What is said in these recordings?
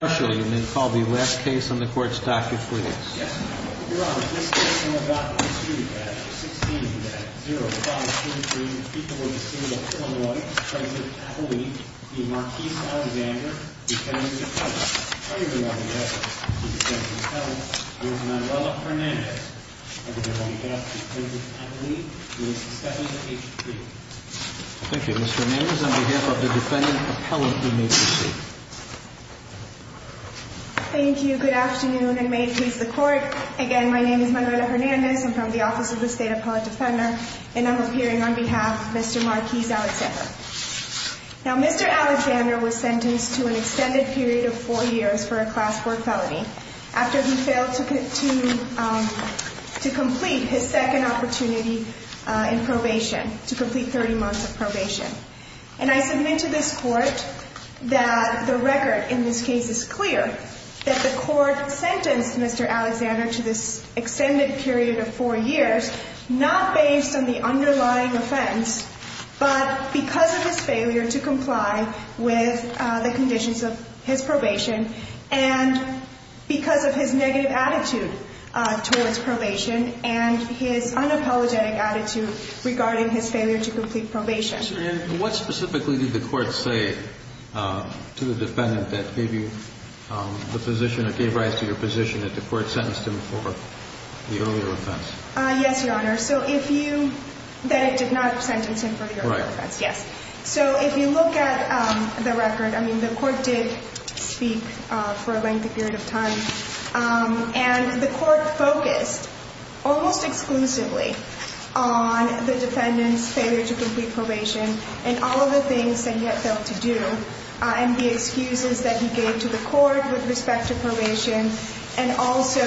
I'm going to call the last case on the court's docket for this. Yes, Your Honor. This case is on the docket on the street at 16-0533. The defendant will be seated at 4-1. Mr. President's appellee, the Marquis Alexander, defendant's appellant. Earlier than on the record, the defendant's appellant was Manuela Hernandez. On behalf of the president's appellee, we will suspend the case. Thank you. Mr. Hernandez, on behalf of the defendant's appellant, you may proceed. Thank you. Good afternoon and may it please the court. Again, my name is Manuela Hernandez. I'm from the Office of the State Appellate Defender and I'm appearing on behalf of Mr. Marquis Alexander. Now, Mr. Alexander was sentenced to an extended period of four years for a class 4 felony after he failed to complete his second opportunity in probation, to complete 30 months of probation. And I submit to this court that the record in this case is clear that the court sentenced Mr. Alexander to this extended period of four years not based on the underlying offense, but because of his failure to comply with the conditions of his probation and because of his negative attitude towards probation and his unapologetic attitude regarding his failure to complete probation. And what specifically did the court say to the defendant that gave you the position or gave rise to your position that the court sentenced him for the earlier offense? Yes, Your Honor. So if you, that it did not sentence him for the earlier offense. Yes. So if you look at the record, I mean, the court did speak for a lengthy period of time. And the court focused almost exclusively on the defendant's failure to complete probation and all of the things that he had failed to do and the excuses that he gave to the court with respect to probation and also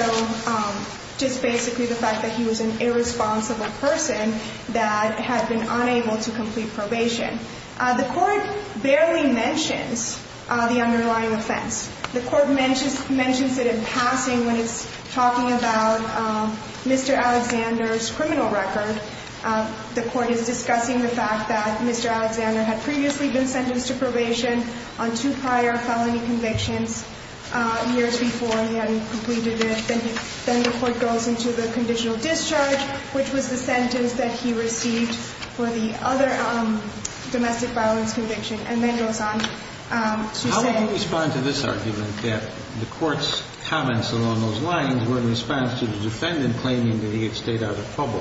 just basically the fact that he was an irresponsible person that had been unable to complete probation. The court barely mentions the underlying offense. The court mentions it in passing when it's talking about Mr. Alexander's criminal record. The court is discussing the fact that Mr. Alexander had previously been sentenced to probation on two prior felony convictions years before he had completed it. Then the court goes into the conditional discharge, which was the sentence that he received for the other domestic violence conviction, and then goes on to say... How would you respond to this argument that the court's comments along those lines were in response to the defendant claiming that he had stayed out of trouble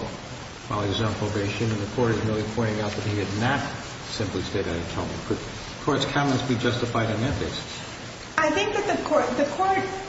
while he was on probation and the court is really pointing out that he had not simply stayed out of trouble? Could the court's comments be justified on that basis? I think that the court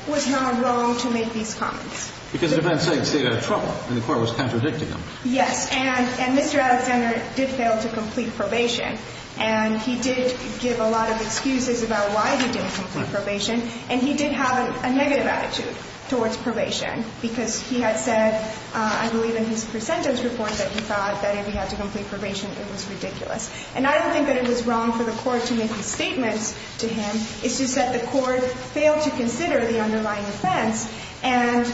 was not wrong to make these comments. Because the defendant said he stayed out of trouble and the court was contradicting him. Yes, and Mr. Alexander did fail to complete probation and he did give a lot of excuses about why he didn't complete probation and he did have a negative attitude towards probation because he had said, I believe in his presentence report, that he thought that if he had to complete probation it was ridiculous. And I don't think that it was wrong for the court to make these statements to him. It's just that the court failed to consider the underlying offense and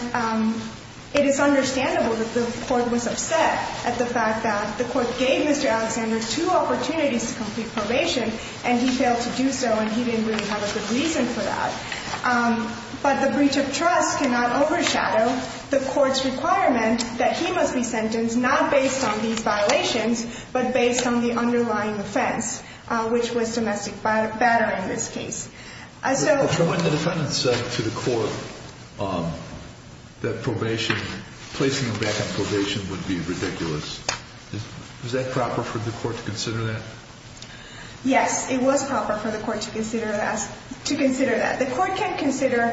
it is understandable that the court was upset at the fact that the court gave Mr. Alexander two opportunities to complete probation and he failed to do so and he didn't really have a good reason for that. But the breach of trust cannot overshadow the court's requirement that he must be sentenced not based on these violations but based on the underlying offense which was domestic battery in this case. When the defendant said to the court that placing him back on probation would be ridiculous was that proper for the court to consider that? Yes, it was proper for the court to consider that. The court can consider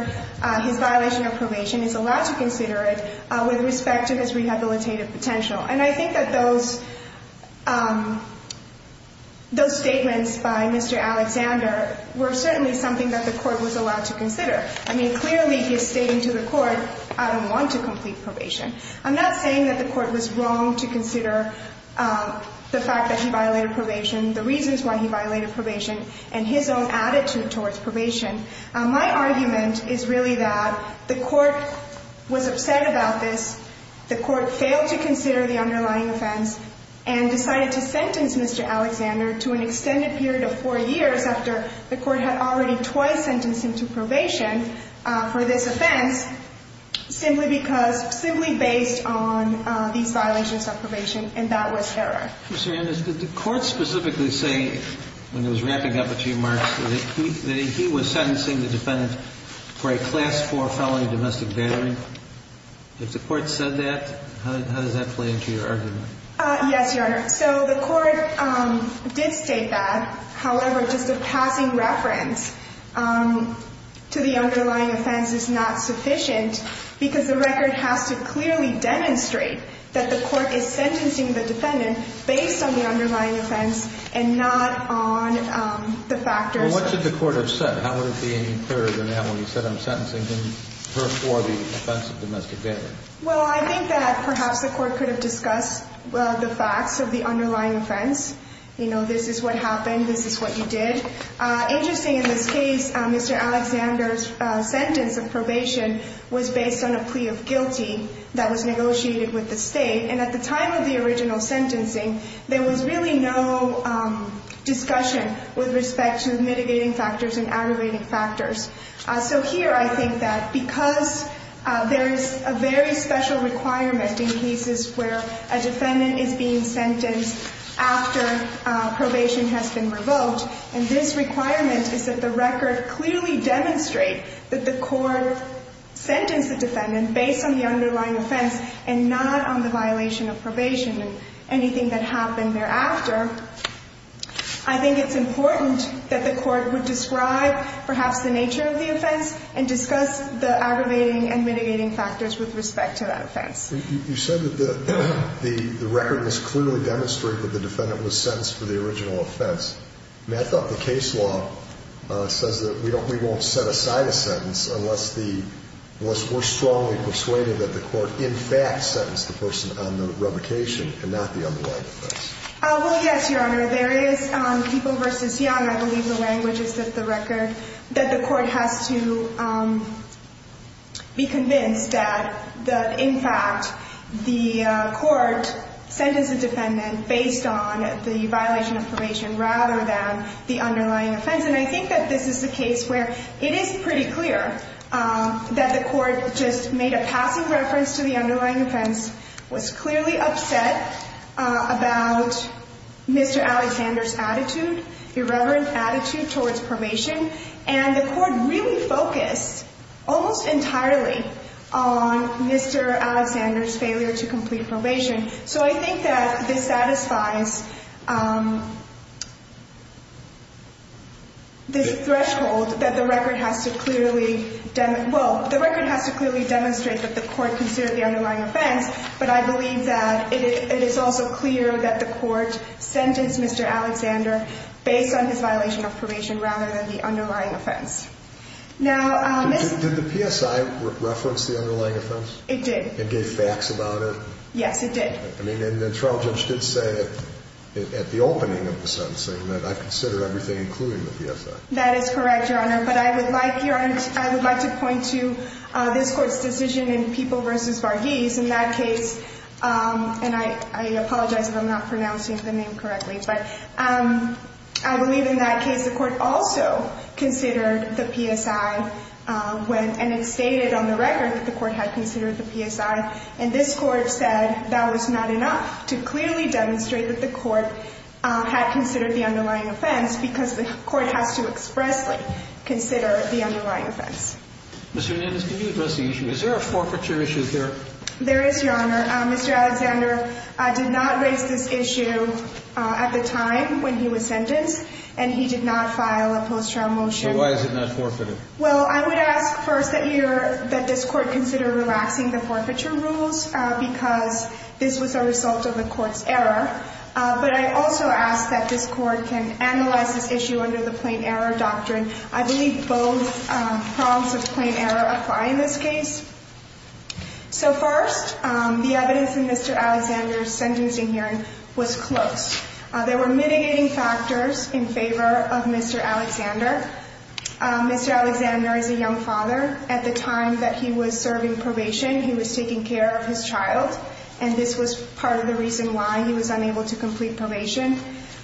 his violation of probation is allowed to consider it with respect to his rehabilitative potential. And I think that those statements by Mr. Alexander were certainly something that the court was allowed to consider. I mean, clearly he's stating to the court I don't want to complete probation. I'm not saying that the court was wrong to consider the fact that he violated probation the reasons why he violated probation and his own attitude towards probation. My argument is really that the court was upset about this. The court failed to consider the underlying offense and decided to sentence Mr. Alexander to an extended period of four years after the court had already twice sentenced him to probation for this offense simply based on these violations of probation and that was error. Ms. Hernandez, did the court specifically say when it was wrapping up its remarks that he was sentencing the defendant for a class four felony domestic battery? If the court said that, how does that play into your argument? Yes, Your Honor. So the court did state that. However, just a passing reference to the underlying offense is not sufficient because the record has to clearly demonstrate that the court is sentencing the defendant based on the underlying offense and not on the factors... Well, what should the court have said? How would it be any clearer than that when you said I'm sentencing him for the offense of domestic battery? Well, I think that perhaps the court could have discussed the facts of the underlying offense. You know, this is what happened, this is what you did. Interestingly, in this case, Mr. Alexander's sentence of probation was based on a plea of guilty that was negotiated with the state and at the time of the original sentencing there was really no discussion with respect to mitigating factors and aggravating factors. So here I think that because there is a very special requirement in cases where a defendant is being sentenced after probation has been revoked and this requirement is that the record clearly demonstrate that the court sentenced the defendant based on the underlying offense and not on the violation of probation and anything that happened thereafter, I think it's important that the court would describe perhaps the nature of the offense and discuss the aggravating and mitigating factors with respect to that offense. You said that the record must clearly demonstrate that the defendant was sentenced for the original offense. I thought the case law says that we won't set aside a sentence unless we're strongly persuaded that the court in fact sentenced the person on the revocation and not the underlying offense. Well, yes, Your Honor. There is people versus young. I believe the language is that the record, that the court has to be convinced that in fact the court sentenced the defendant based on the violation of probation rather than the underlying offense and I think that this is the case where it is pretty clear that the court just made a passive reference to the underlying offense, was clearly upset about Mr. Alexander's attitude, irreverent attitude towards probation, and the court really focused almost entirely on Mr. Alexander's failure to complete probation. So I think that this satisfies this threshold that the record has to clearly, well, the record has to clearly demonstrate that the court considered the underlying offense, but I believe that it is also clear that the court sentenced Mr. Alexander based on his violation of probation rather than the underlying offense. Now... Did the PSI reference the underlying offense? It did. It gave facts about it? Yes, it did. I mean, and the trial judge did say at the opening of the sentencing that I've considered everything including the PSI. That is correct, Your Honor, but I would like to point to this court's decision in People v. Varghese. In that case, and I apologize if I'm not pronouncing the name correctly, but I believe in that case the court also considered the PSI, and it stated on the record that the court had considered the PSI, and this court said that was not enough to clearly demonstrate that the court had considered the underlying offense because the court has to expressly consider the underlying offense. Ms. Hernandez, can you address the issue? Is there a forfeiture issue here? There is, Your Honor. Mr. Alexander did not raise this issue at the time when he was sentenced, and he did not file a post-trial motion. So why is it not forfeited? Well, I would ask first that this court consider relaxing the forfeiture rules because this was a result of the court's error, but I also ask that this court can analyze this issue under the plain error doctrine. I believe both prongs of plain error apply in this case. So first, the evidence in Mr. Alexander's sentencing hearing was close. There were mitigating factors in favor of Mr. Alexander. Mr. Alexander is a young father. At the time that he was serving probation, he was taking care of his child, and this was part of the reason why he was unable to complete probation.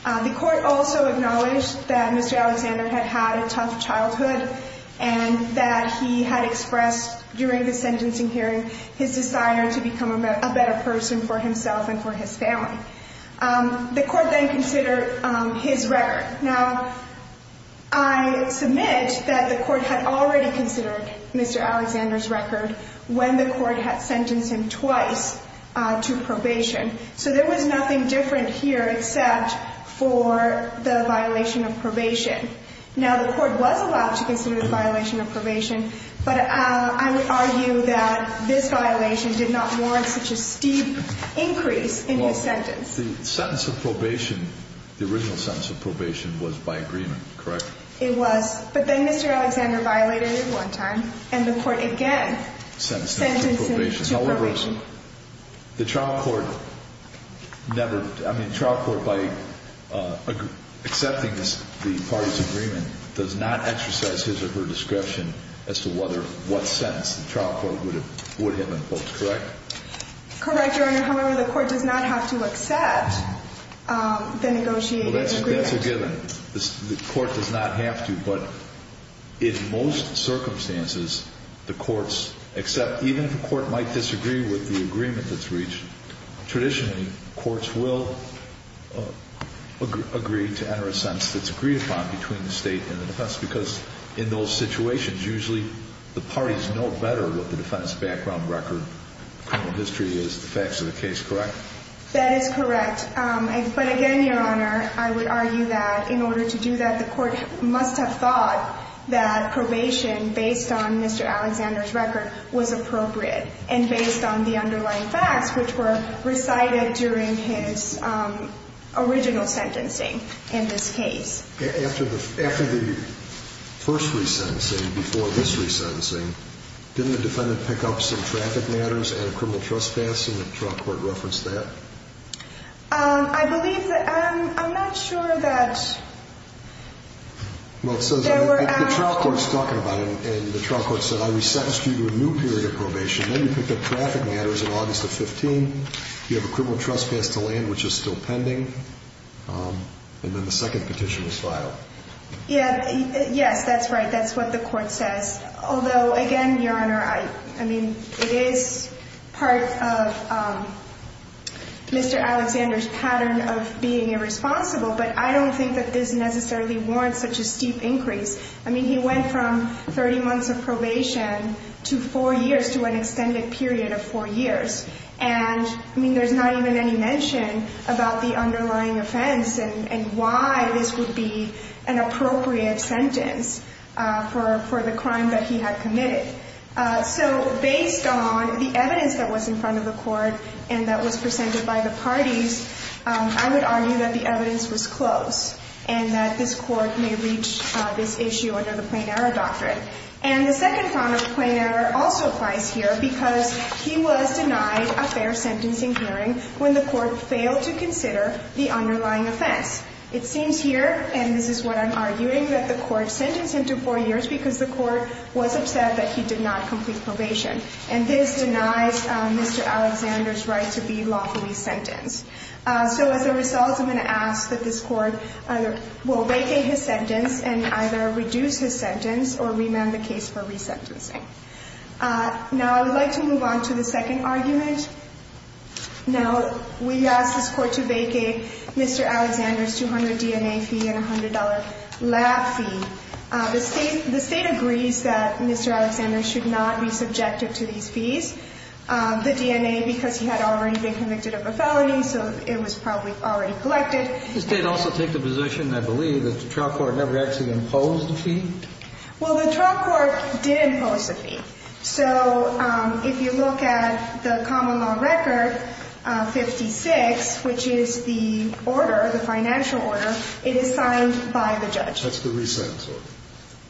The court also acknowledged that Mr. Alexander had had a tough childhood and that he had expressed during the sentencing hearing his desire to become a better person for himself and for his family. The court then considered his record. Now, I submit that the court had already considered Mr. Alexander's record when the court had sentenced him twice to probation. So there was nothing different here except for the violation of probation. Now, the court was allowed to consider the violation of probation, but I would argue that this violation did not warrant such a steep increase in his sentence. The sentence of probation, the original sentence of probation, was by agreement, correct? It was, but then Mr. Alexander violated it one time and the court again sentenced him to probation. The trial court never... I mean, the trial court, by accepting the parties' agreement, does not exercise his or her description as to what sentence the trial court would have imposed, correct? Correct, Your Honor. However, the court does not have to accept the negotiated agreement. Well, that's a given. The court does not have to, but in most circumstances, the courts accept. Even if the court might disagree with the agreement that's reached, traditionally, courts will agree to enter a sentence that's agreed upon between the state and the defense, because in those situations, usually the parties know better what the defense background record, criminal history is, the facts of the case, correct? That is correct. But again, Your Honor, I would argue that in order to do that, the court must have thought that probation based on Mr. Alexander's record was appropriate, and based on the underlying facts which were recited during his original sentencing, in this case. After the first resentencing, before this resentencing, didn't the defendant pick up some traffic matters at a criminal trespassing? Did the trial court reference that? I believe that... I'm not sure that... The trial court's talking about it, and the trial court said, I resentenced you to a new period of probation, then you picked up traffic matters in August of 15, you have a criminal trespass to land, which is still pending, and then the second petition was filed. Yes, that's right. That's what the court says. Although, again, Your Honor, it is part of Mr. Alexander's pattern of being irresponsible, but I don't think that this necessarily warrants such a steep increase. He went from 30 months of probation to four years, to an extended period of four years, and there's not even any mention about the underlying offense and why this would be an appropriate sentence for the crime that he had committed. So, based on the evidence that was in front of the court and that was presented by the parties, I would argue that the evidence was close and that this court may reach this issue under the Plain Error Doctrine. And the second form of the Plain Error also applies here because he was denied a fair sentencing hearing when the court failed to consider the underlying offense. It seems here, and this is what I'm arguing, that the court sentenced him to four years because the court was upset that he did not complete probation. And this denies Mr. Alexander's right to be lawfully sentenced. So, as a result, I'm going to ask that this court will vacate his sentence and either reduce his sentence or remand the case for resentencing. Now, I would like to move on to the second argument. Now, we asked this court to vacate Mr. Alexander's 200 DNA fee and $100 lab fee. The state agrees that Mr. Alexander should not be subjective to these fees. The DNA, because he had already been convicted of a felony, so it was probably already collected. Does the state also take the position, I believe, that the trial court never actually imposed the fee? Well, the trial court did impose the fee. So, if you look at the common law record, 56, which is the order, the financial order, it is signed by the judge. That's the resent order.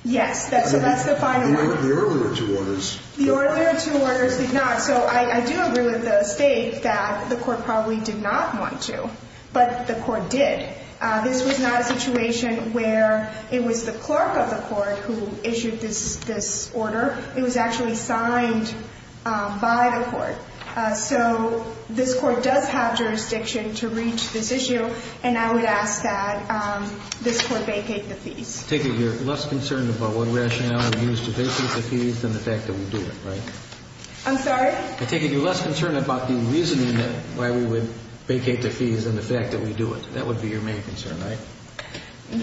Yes, so that's the final one. The earlier two orders? The earlier two orders did not. So, I do agree with the state that the court probably did not want to, but the court did. This was not a situation where it was the clerk of the court who issued this order. It was actually signed by the court. So, this court does have jurisdiction to reach this issue and I would ask that this court vacate the fees. I take it you're less concerned about what rationale we use to vacate the fees than the fact that we do it, right? I'm sorry? I take it you're less concerned about the reasoning why we would vacate the fees than the fact that we do it. That would be your main concern, right?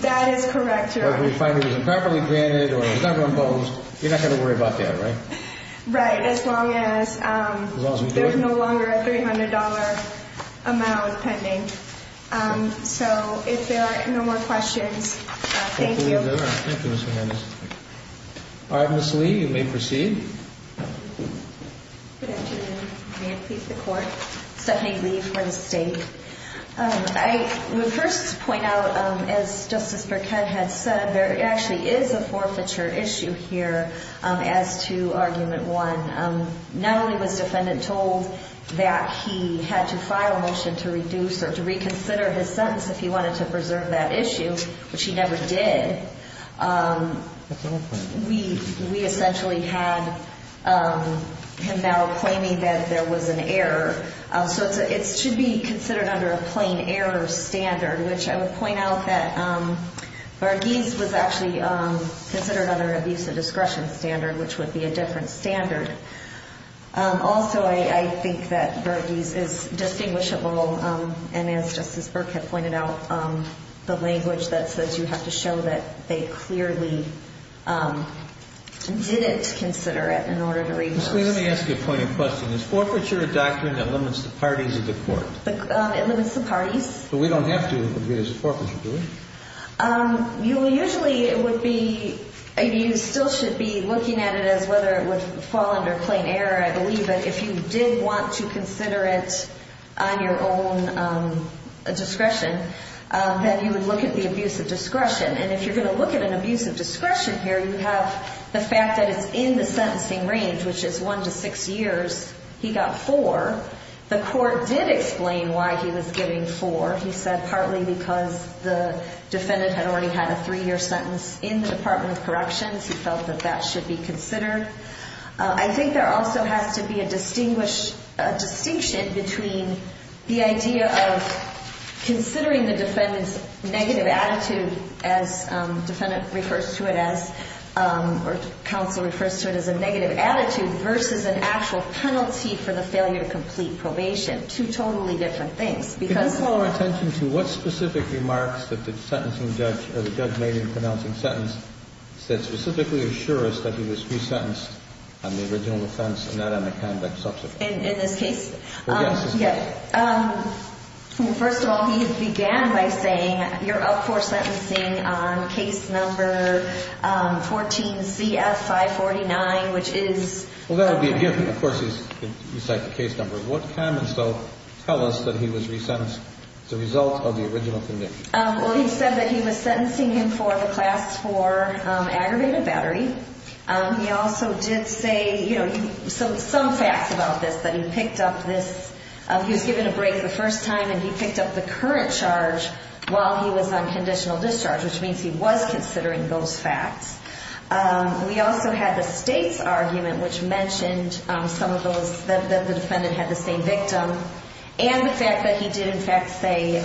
That is correct, Your Honor. If we find it was improperly granted or it was never imposed, you're not going to worry about that, right? Right, as long as there's no longer a $300 amount pending. So, if there are no more questions, thank you. Alright, Ms. Lee, you may proceed. Stephanie Lee for the state. I would first point out, as Justice Burkett had said, there actually is a forfeiture issue here as to Argument 1. Not only was the defendant told that he had to make a formal motion to reduce or to reconsider his sentence if he wanted to preserve that issue, which he never did, we essentially had him now claiming that there was an error. So, it should be considered under a plain error standard, which I would point out that Varghese was actually considered under an abuse of discretion standard, which would be a different standard. Also, I think that Varghese is distinguishable and as Justice Burkett pointed out, the language that says you have to show that they clearly didn't consider it in order to reduce. Ms. Lee, let me ask you a point of question. Is forfeiture a doctrine that limits the parties of the court? It limits the parties. But we don't have to abuse forfeiture, do we? Usually, it would be you still should be looking at it as whether it would fall under plain error. If you did want to consider it on your own discretion, then you would look at the abuse of discretion. And if you're going to look at an abuse of discretion here, you have the fact that it's in the sentencing range, which is one to six years. He got four. The court did explain why he was getting four. He said partly because the defendant had already had a three-year sentence in the Department of Corrections. He felt that that should be considered. I think there also has to be a distinction between the idea of considering the defendant's negative attitude as defendant refers to it as, or counsel refers to it as a negative attitude versus an actual penalty for the failure to complete probation. Two totally different things. Can you call our attention to what specific remarks that the sentencing judge or the judge made in the pronouncing sentence that specifically assure us that he was resentenced on the original offense and not on the conduct subsequent? In this case? Well, yes. First of all, he began by saying you're up for sentencing on case number 14 CF 549, which is... Well, that would be a gift. Of course, you cite the case number. What comments, though, tell us that he was resentenced as a result of the original conviction? Well, he said that he was sentencing him for the class for aggravated battery. He also did say some facts about this that he picked up this... He was given a break the first time and he picked up the current charge while he was on conditional discharge, which means he was considering those facts. We also had the state's argument, which mentioned some of those, that the defendant had the same victim, and the fact that he did, in fact, say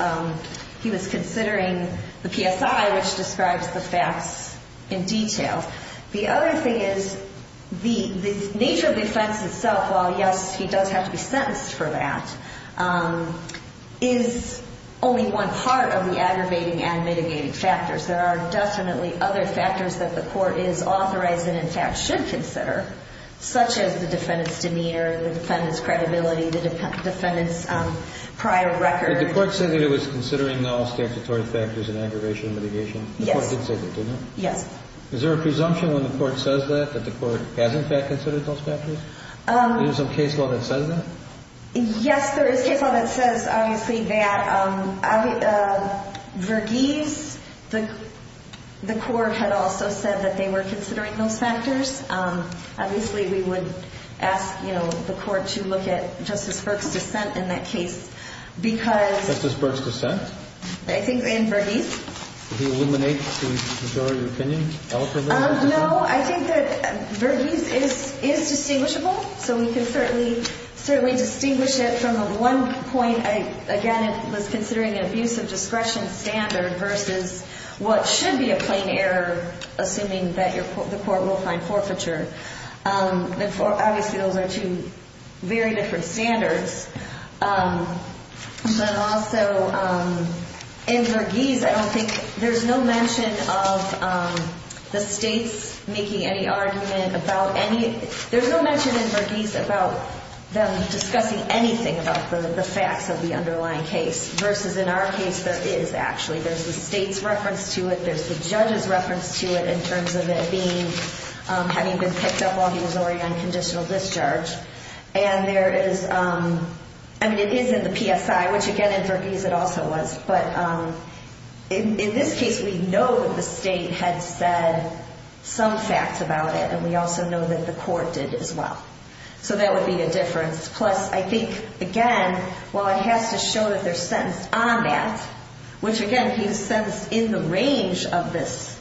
he was considering the PSI, which describes the facts in detail. The other thing is the nature of the offense itself, while, yes, he does have to be sentenced for that, is only one part of the aggravating and mitigating factors. There are definitely other factors that the court is authorized and, in fact, should consider, such as the defendant's demeanor, the defendant's credibility, the defendant's prior record. Did the court say that it was considering all statutory factors in aggravation and mitigation? Yes. The court did say that, didn't it? Yes. Is there a presumption when the court says that, that the court has, in fact, considered those factors? Is there some case law that says that? Yes, there is case law that says obviously that Verghese, the court had also said that they were considering those factors. Obviously, we would ask, you know, the court to look at Justice Burke's dissent in that case because... In Verghese? Did he eliminate the majority opinion? No, I think that Verghese is distinguishable, so we can certainly distinguish it from the one point I, again, was considering an abuse of discretion standard versus what should be a plain error assuming that the court will find forfeiture. Obviously, those are two very different standards, but also in Verghese, I don't think there's no mention of the states making any argument about any... There's no mention in Verghese about them discussing anything about the facts of the underlying case versus in our case, there is actually. There's the state's reference to it, there's the judge's reference to it in terms of it being, having been picked up while he was already on conditional discharge, and there is, I mean, it is in the PSI, which again, in Verghese, it also was, but in this case, we know that the state had said some facts about it, and we also know that the court did as well. So that would be a difference. Plus, I think again, while it has to show that they're sentenced on that, which again, he was sentenced in the range of this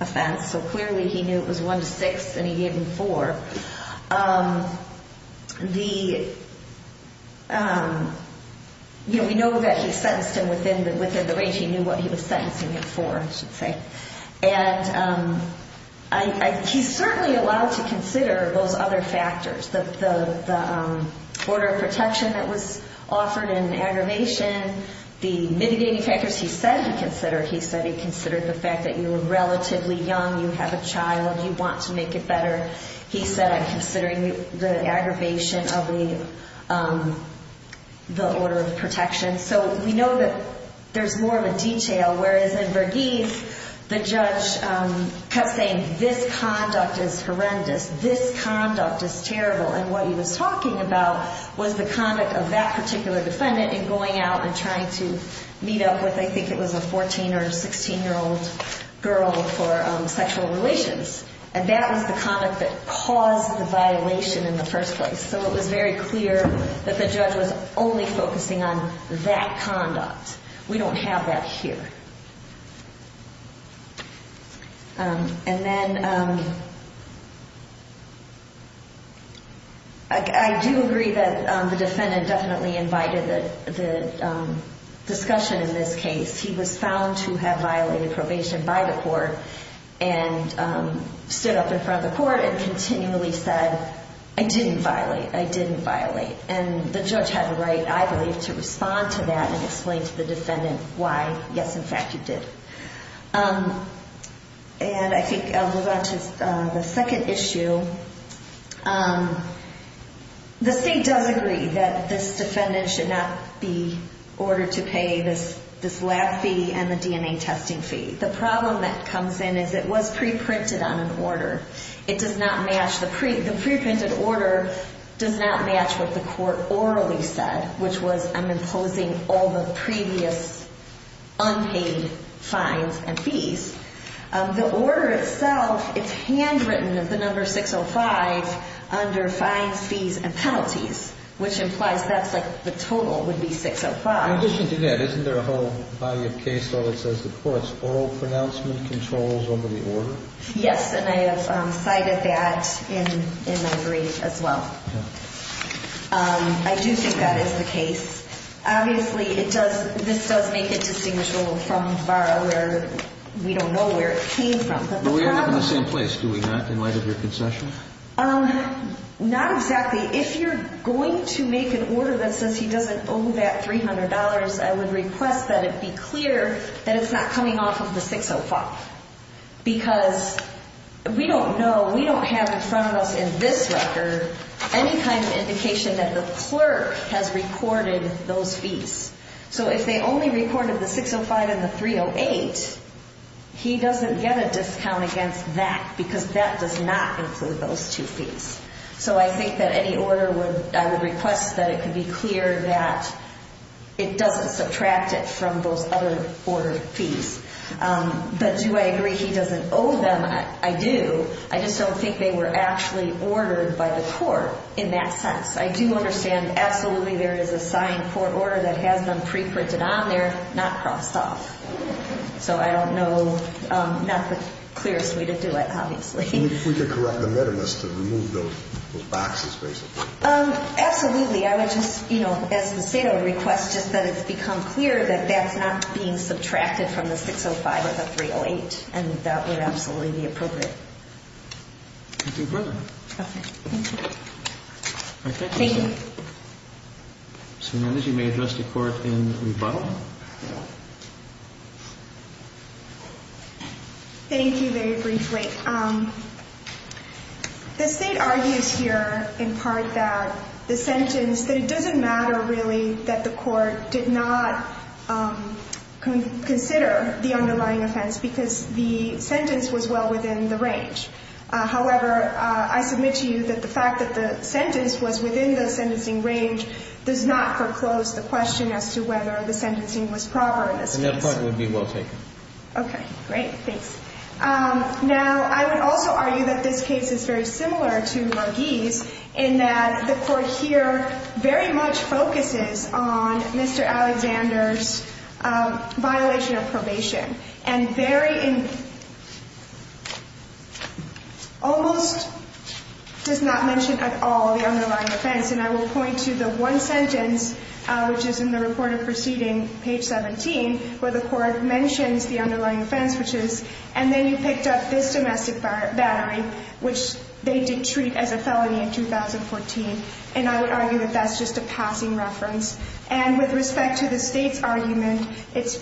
offense, so clearly he knew it was 1-6 and he gave him 4, the you know, we know that he sentenced him within the range he knew what he was sentencing him for, I should say. And he's certainly allowed to consider those other factors. The order of protection that was offered and aggravation, the mitigating factors he said he considered. He said he considered the fact that you were relatively young, you have a child, you want to make it better. He said, I'm considering the aggravation of the order of protection. So we know that there's more of a detail, whereas in Bergeith, the judge kept saying, this conduct is horrendous, this conduct is terrible. And what he was talking about was the conduct of that particular defendant in going out and trying to meet up with, I think it was a 14 or 16-year-old girl for sexual relations. And that was the conduct that caused the violation in the first place. So it was very clear that the judge was only focusing on that conduct. We don't have that here. And then I do agree that the defendant definitely invited the discussion in this case. He was found to have violated probation by the court and stood up in front of the court and continually said, I didn't violate, I didn't violate. And the judge had a right, I believe, to respond to that and explain to the defendant why, yes, in fact, he did. And I think I'll move on to the second issue. The state does agree that this defendant should not be ordered to pay this lab fee and the DNA testing fee. The problem that comes in is it was pre-printed on an order. It does not match, the pre-printed order does not match what the court orally said, which was, I'm imposing all the previous unpaid fines and fees. The order itself, it's handwritten at the number 605 under fines, fees, and penalties, which implies that's like the total would be 605. In addition to that, isn't there a whole body of case law that says the court's oral pronouncement controls over the order? Yes, and I have cited that in my brief as well. I do think that is the case. Obviously, it does, this does make it distinguishable from Barra where we don't know where it came from. But the problem... But we're not in the same place, do we not, in light of your concession? Not exactly. If you're going to make an order that says he doesn't owe that $300, I would request that it be clear that it's not coming off of the 605 because we don't know, we don't have in front of us in this record any kind of indication that the clerk has recorded those fees. So if they only recorded the 605 and the 308, he doesn't get a discount against that because that does not include those two fees. So I think that any order would... I would request that it could be clear that it doesn't subtract it from those other order fees. But do I agree he doesn't owe them? I do. I just don't think they were actually ordered by the court in that sense. I do understand absolutely there is a signed court order that has them pre-printed on there, not crossed off. So I don't know, not the clearest way to do it, obviously. We could correct the metamask to remove those boxes, basically. Absolutely. I would just, you know, as the state, I would request just that it's become clear that that's not being subtracted from the 605 or the 308. And that would absolutely be appropriate. Thank you very much. Okay. Thank you. Thank you. So now that you may address the court in rebuttal. Thank you very briefly. The state argues here in part that the sentence, that it doesn't matter really that the court did not consider the underlying offense because the sentence was well within the range. However, I submit to you that the fact that the sentence was within the sentencing range does not foreclose the question as to whether the sentencing was proper in this case. And that point would be well taken. Okay. Great. Thanks. Now, I would also argue that this case is very similar to Marghese in that the court here very much focuses on Mr. Alexander's violation of probation. And very almost does not mention at all the underlying offense. And I will point to the one sentence which is in the report of proceeding, page 17, where the court mentions the underlying offense which is, and then you picked up this domestic battery, which they did treat as a felony in 2014. And I would argue that that's just a passing reference. And with respect to the State's argument, it's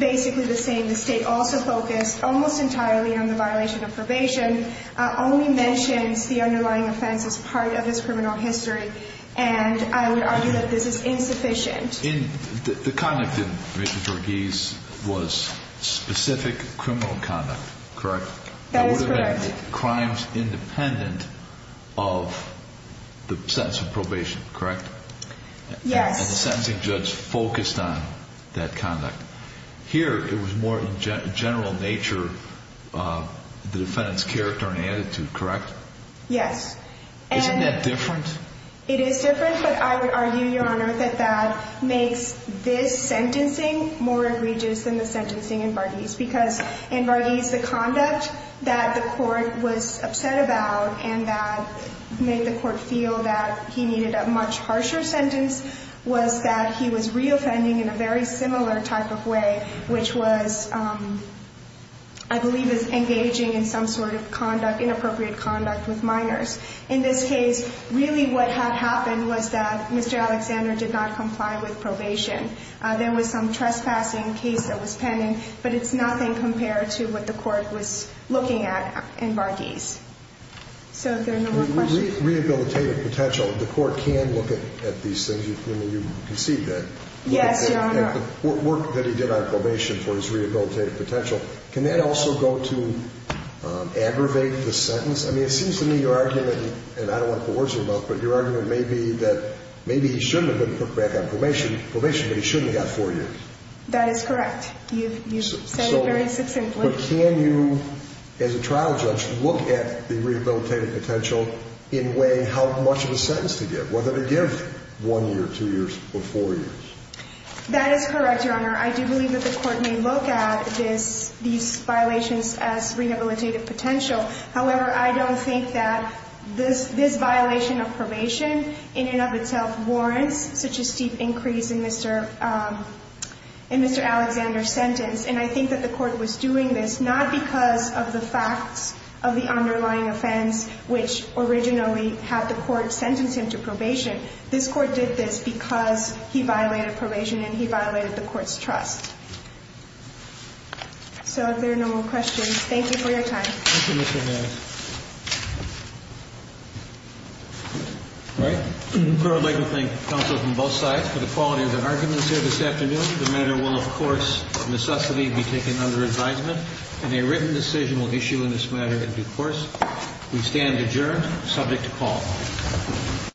basically the same. The State also focused almost entirely on the violation of probation, only mentions the underlying offense as part of his criminal history. And I would argue that this is insufficient. The conduct in Mr. Marghese was specific criminal conduct, correct? That is correct. That would have been crimes independent of the sentence of probation, correct? Yes. And the sentencing judge focused on that conduct. Here, it was more in general nature the defendant's character and attitude, correct? Yes. Isn't that different? It is different, but I would argue, Your Honor, that that makes this sentencing more egregious than the sentencing in Marghese. Because in Marghese, the conduct that the court was upset about and that made the court feel that he needed a much harsher sentence was that he was reoffending in a very similar type of way, which was I believe is engaging in some sort of conduct, inappropriate conduct with minors. In this case, really what had happened was that Mr. Alexander did not comply with probation. There was some trespassing case that was pending, but it's nothing compared to what the court was looking at in Marghese. So, if there are no more questions... Rehabilitative potential, the court can look at these things. I mean, you conceived that. Yes, Your Honor. The work that he did on probation for his rehabilitative potential, can that also go to aggravate the sentence? I mean, it seems to me your argument and I don't want to put words in your mouth, but your argument may be that maybe he shouldn't have been put back on probation, but he shouldn't have got four years. That is correct. You've said it very succinctly. But can you, as a trial judge, look at the rehabilitative potential in way how much of a sentence to give, whether to give one year, two years, or four years? That is correct, Your Honor. I do believe that the court may look at these violations as rehabilitative potential. However, I don't think that this violation of probation in and of itself warrants such a steep increase in Mr. Alexander's sentence. And I think that the court was doing this not because of the facts of the underlying offense, which originally had the court sentence him to probation. This court did this because he violated probation and he violated the court's trust. So if there are no more questions, thank you for your time. Thank you, Mr. Harris. All right. I would like to thank counsel from both sides for the quality of their arguments here this afternoon. The matter will, of course, of necessity be taken under advisement, and a written decision will issue in this matter in due course. We stand adjourned, subject to call.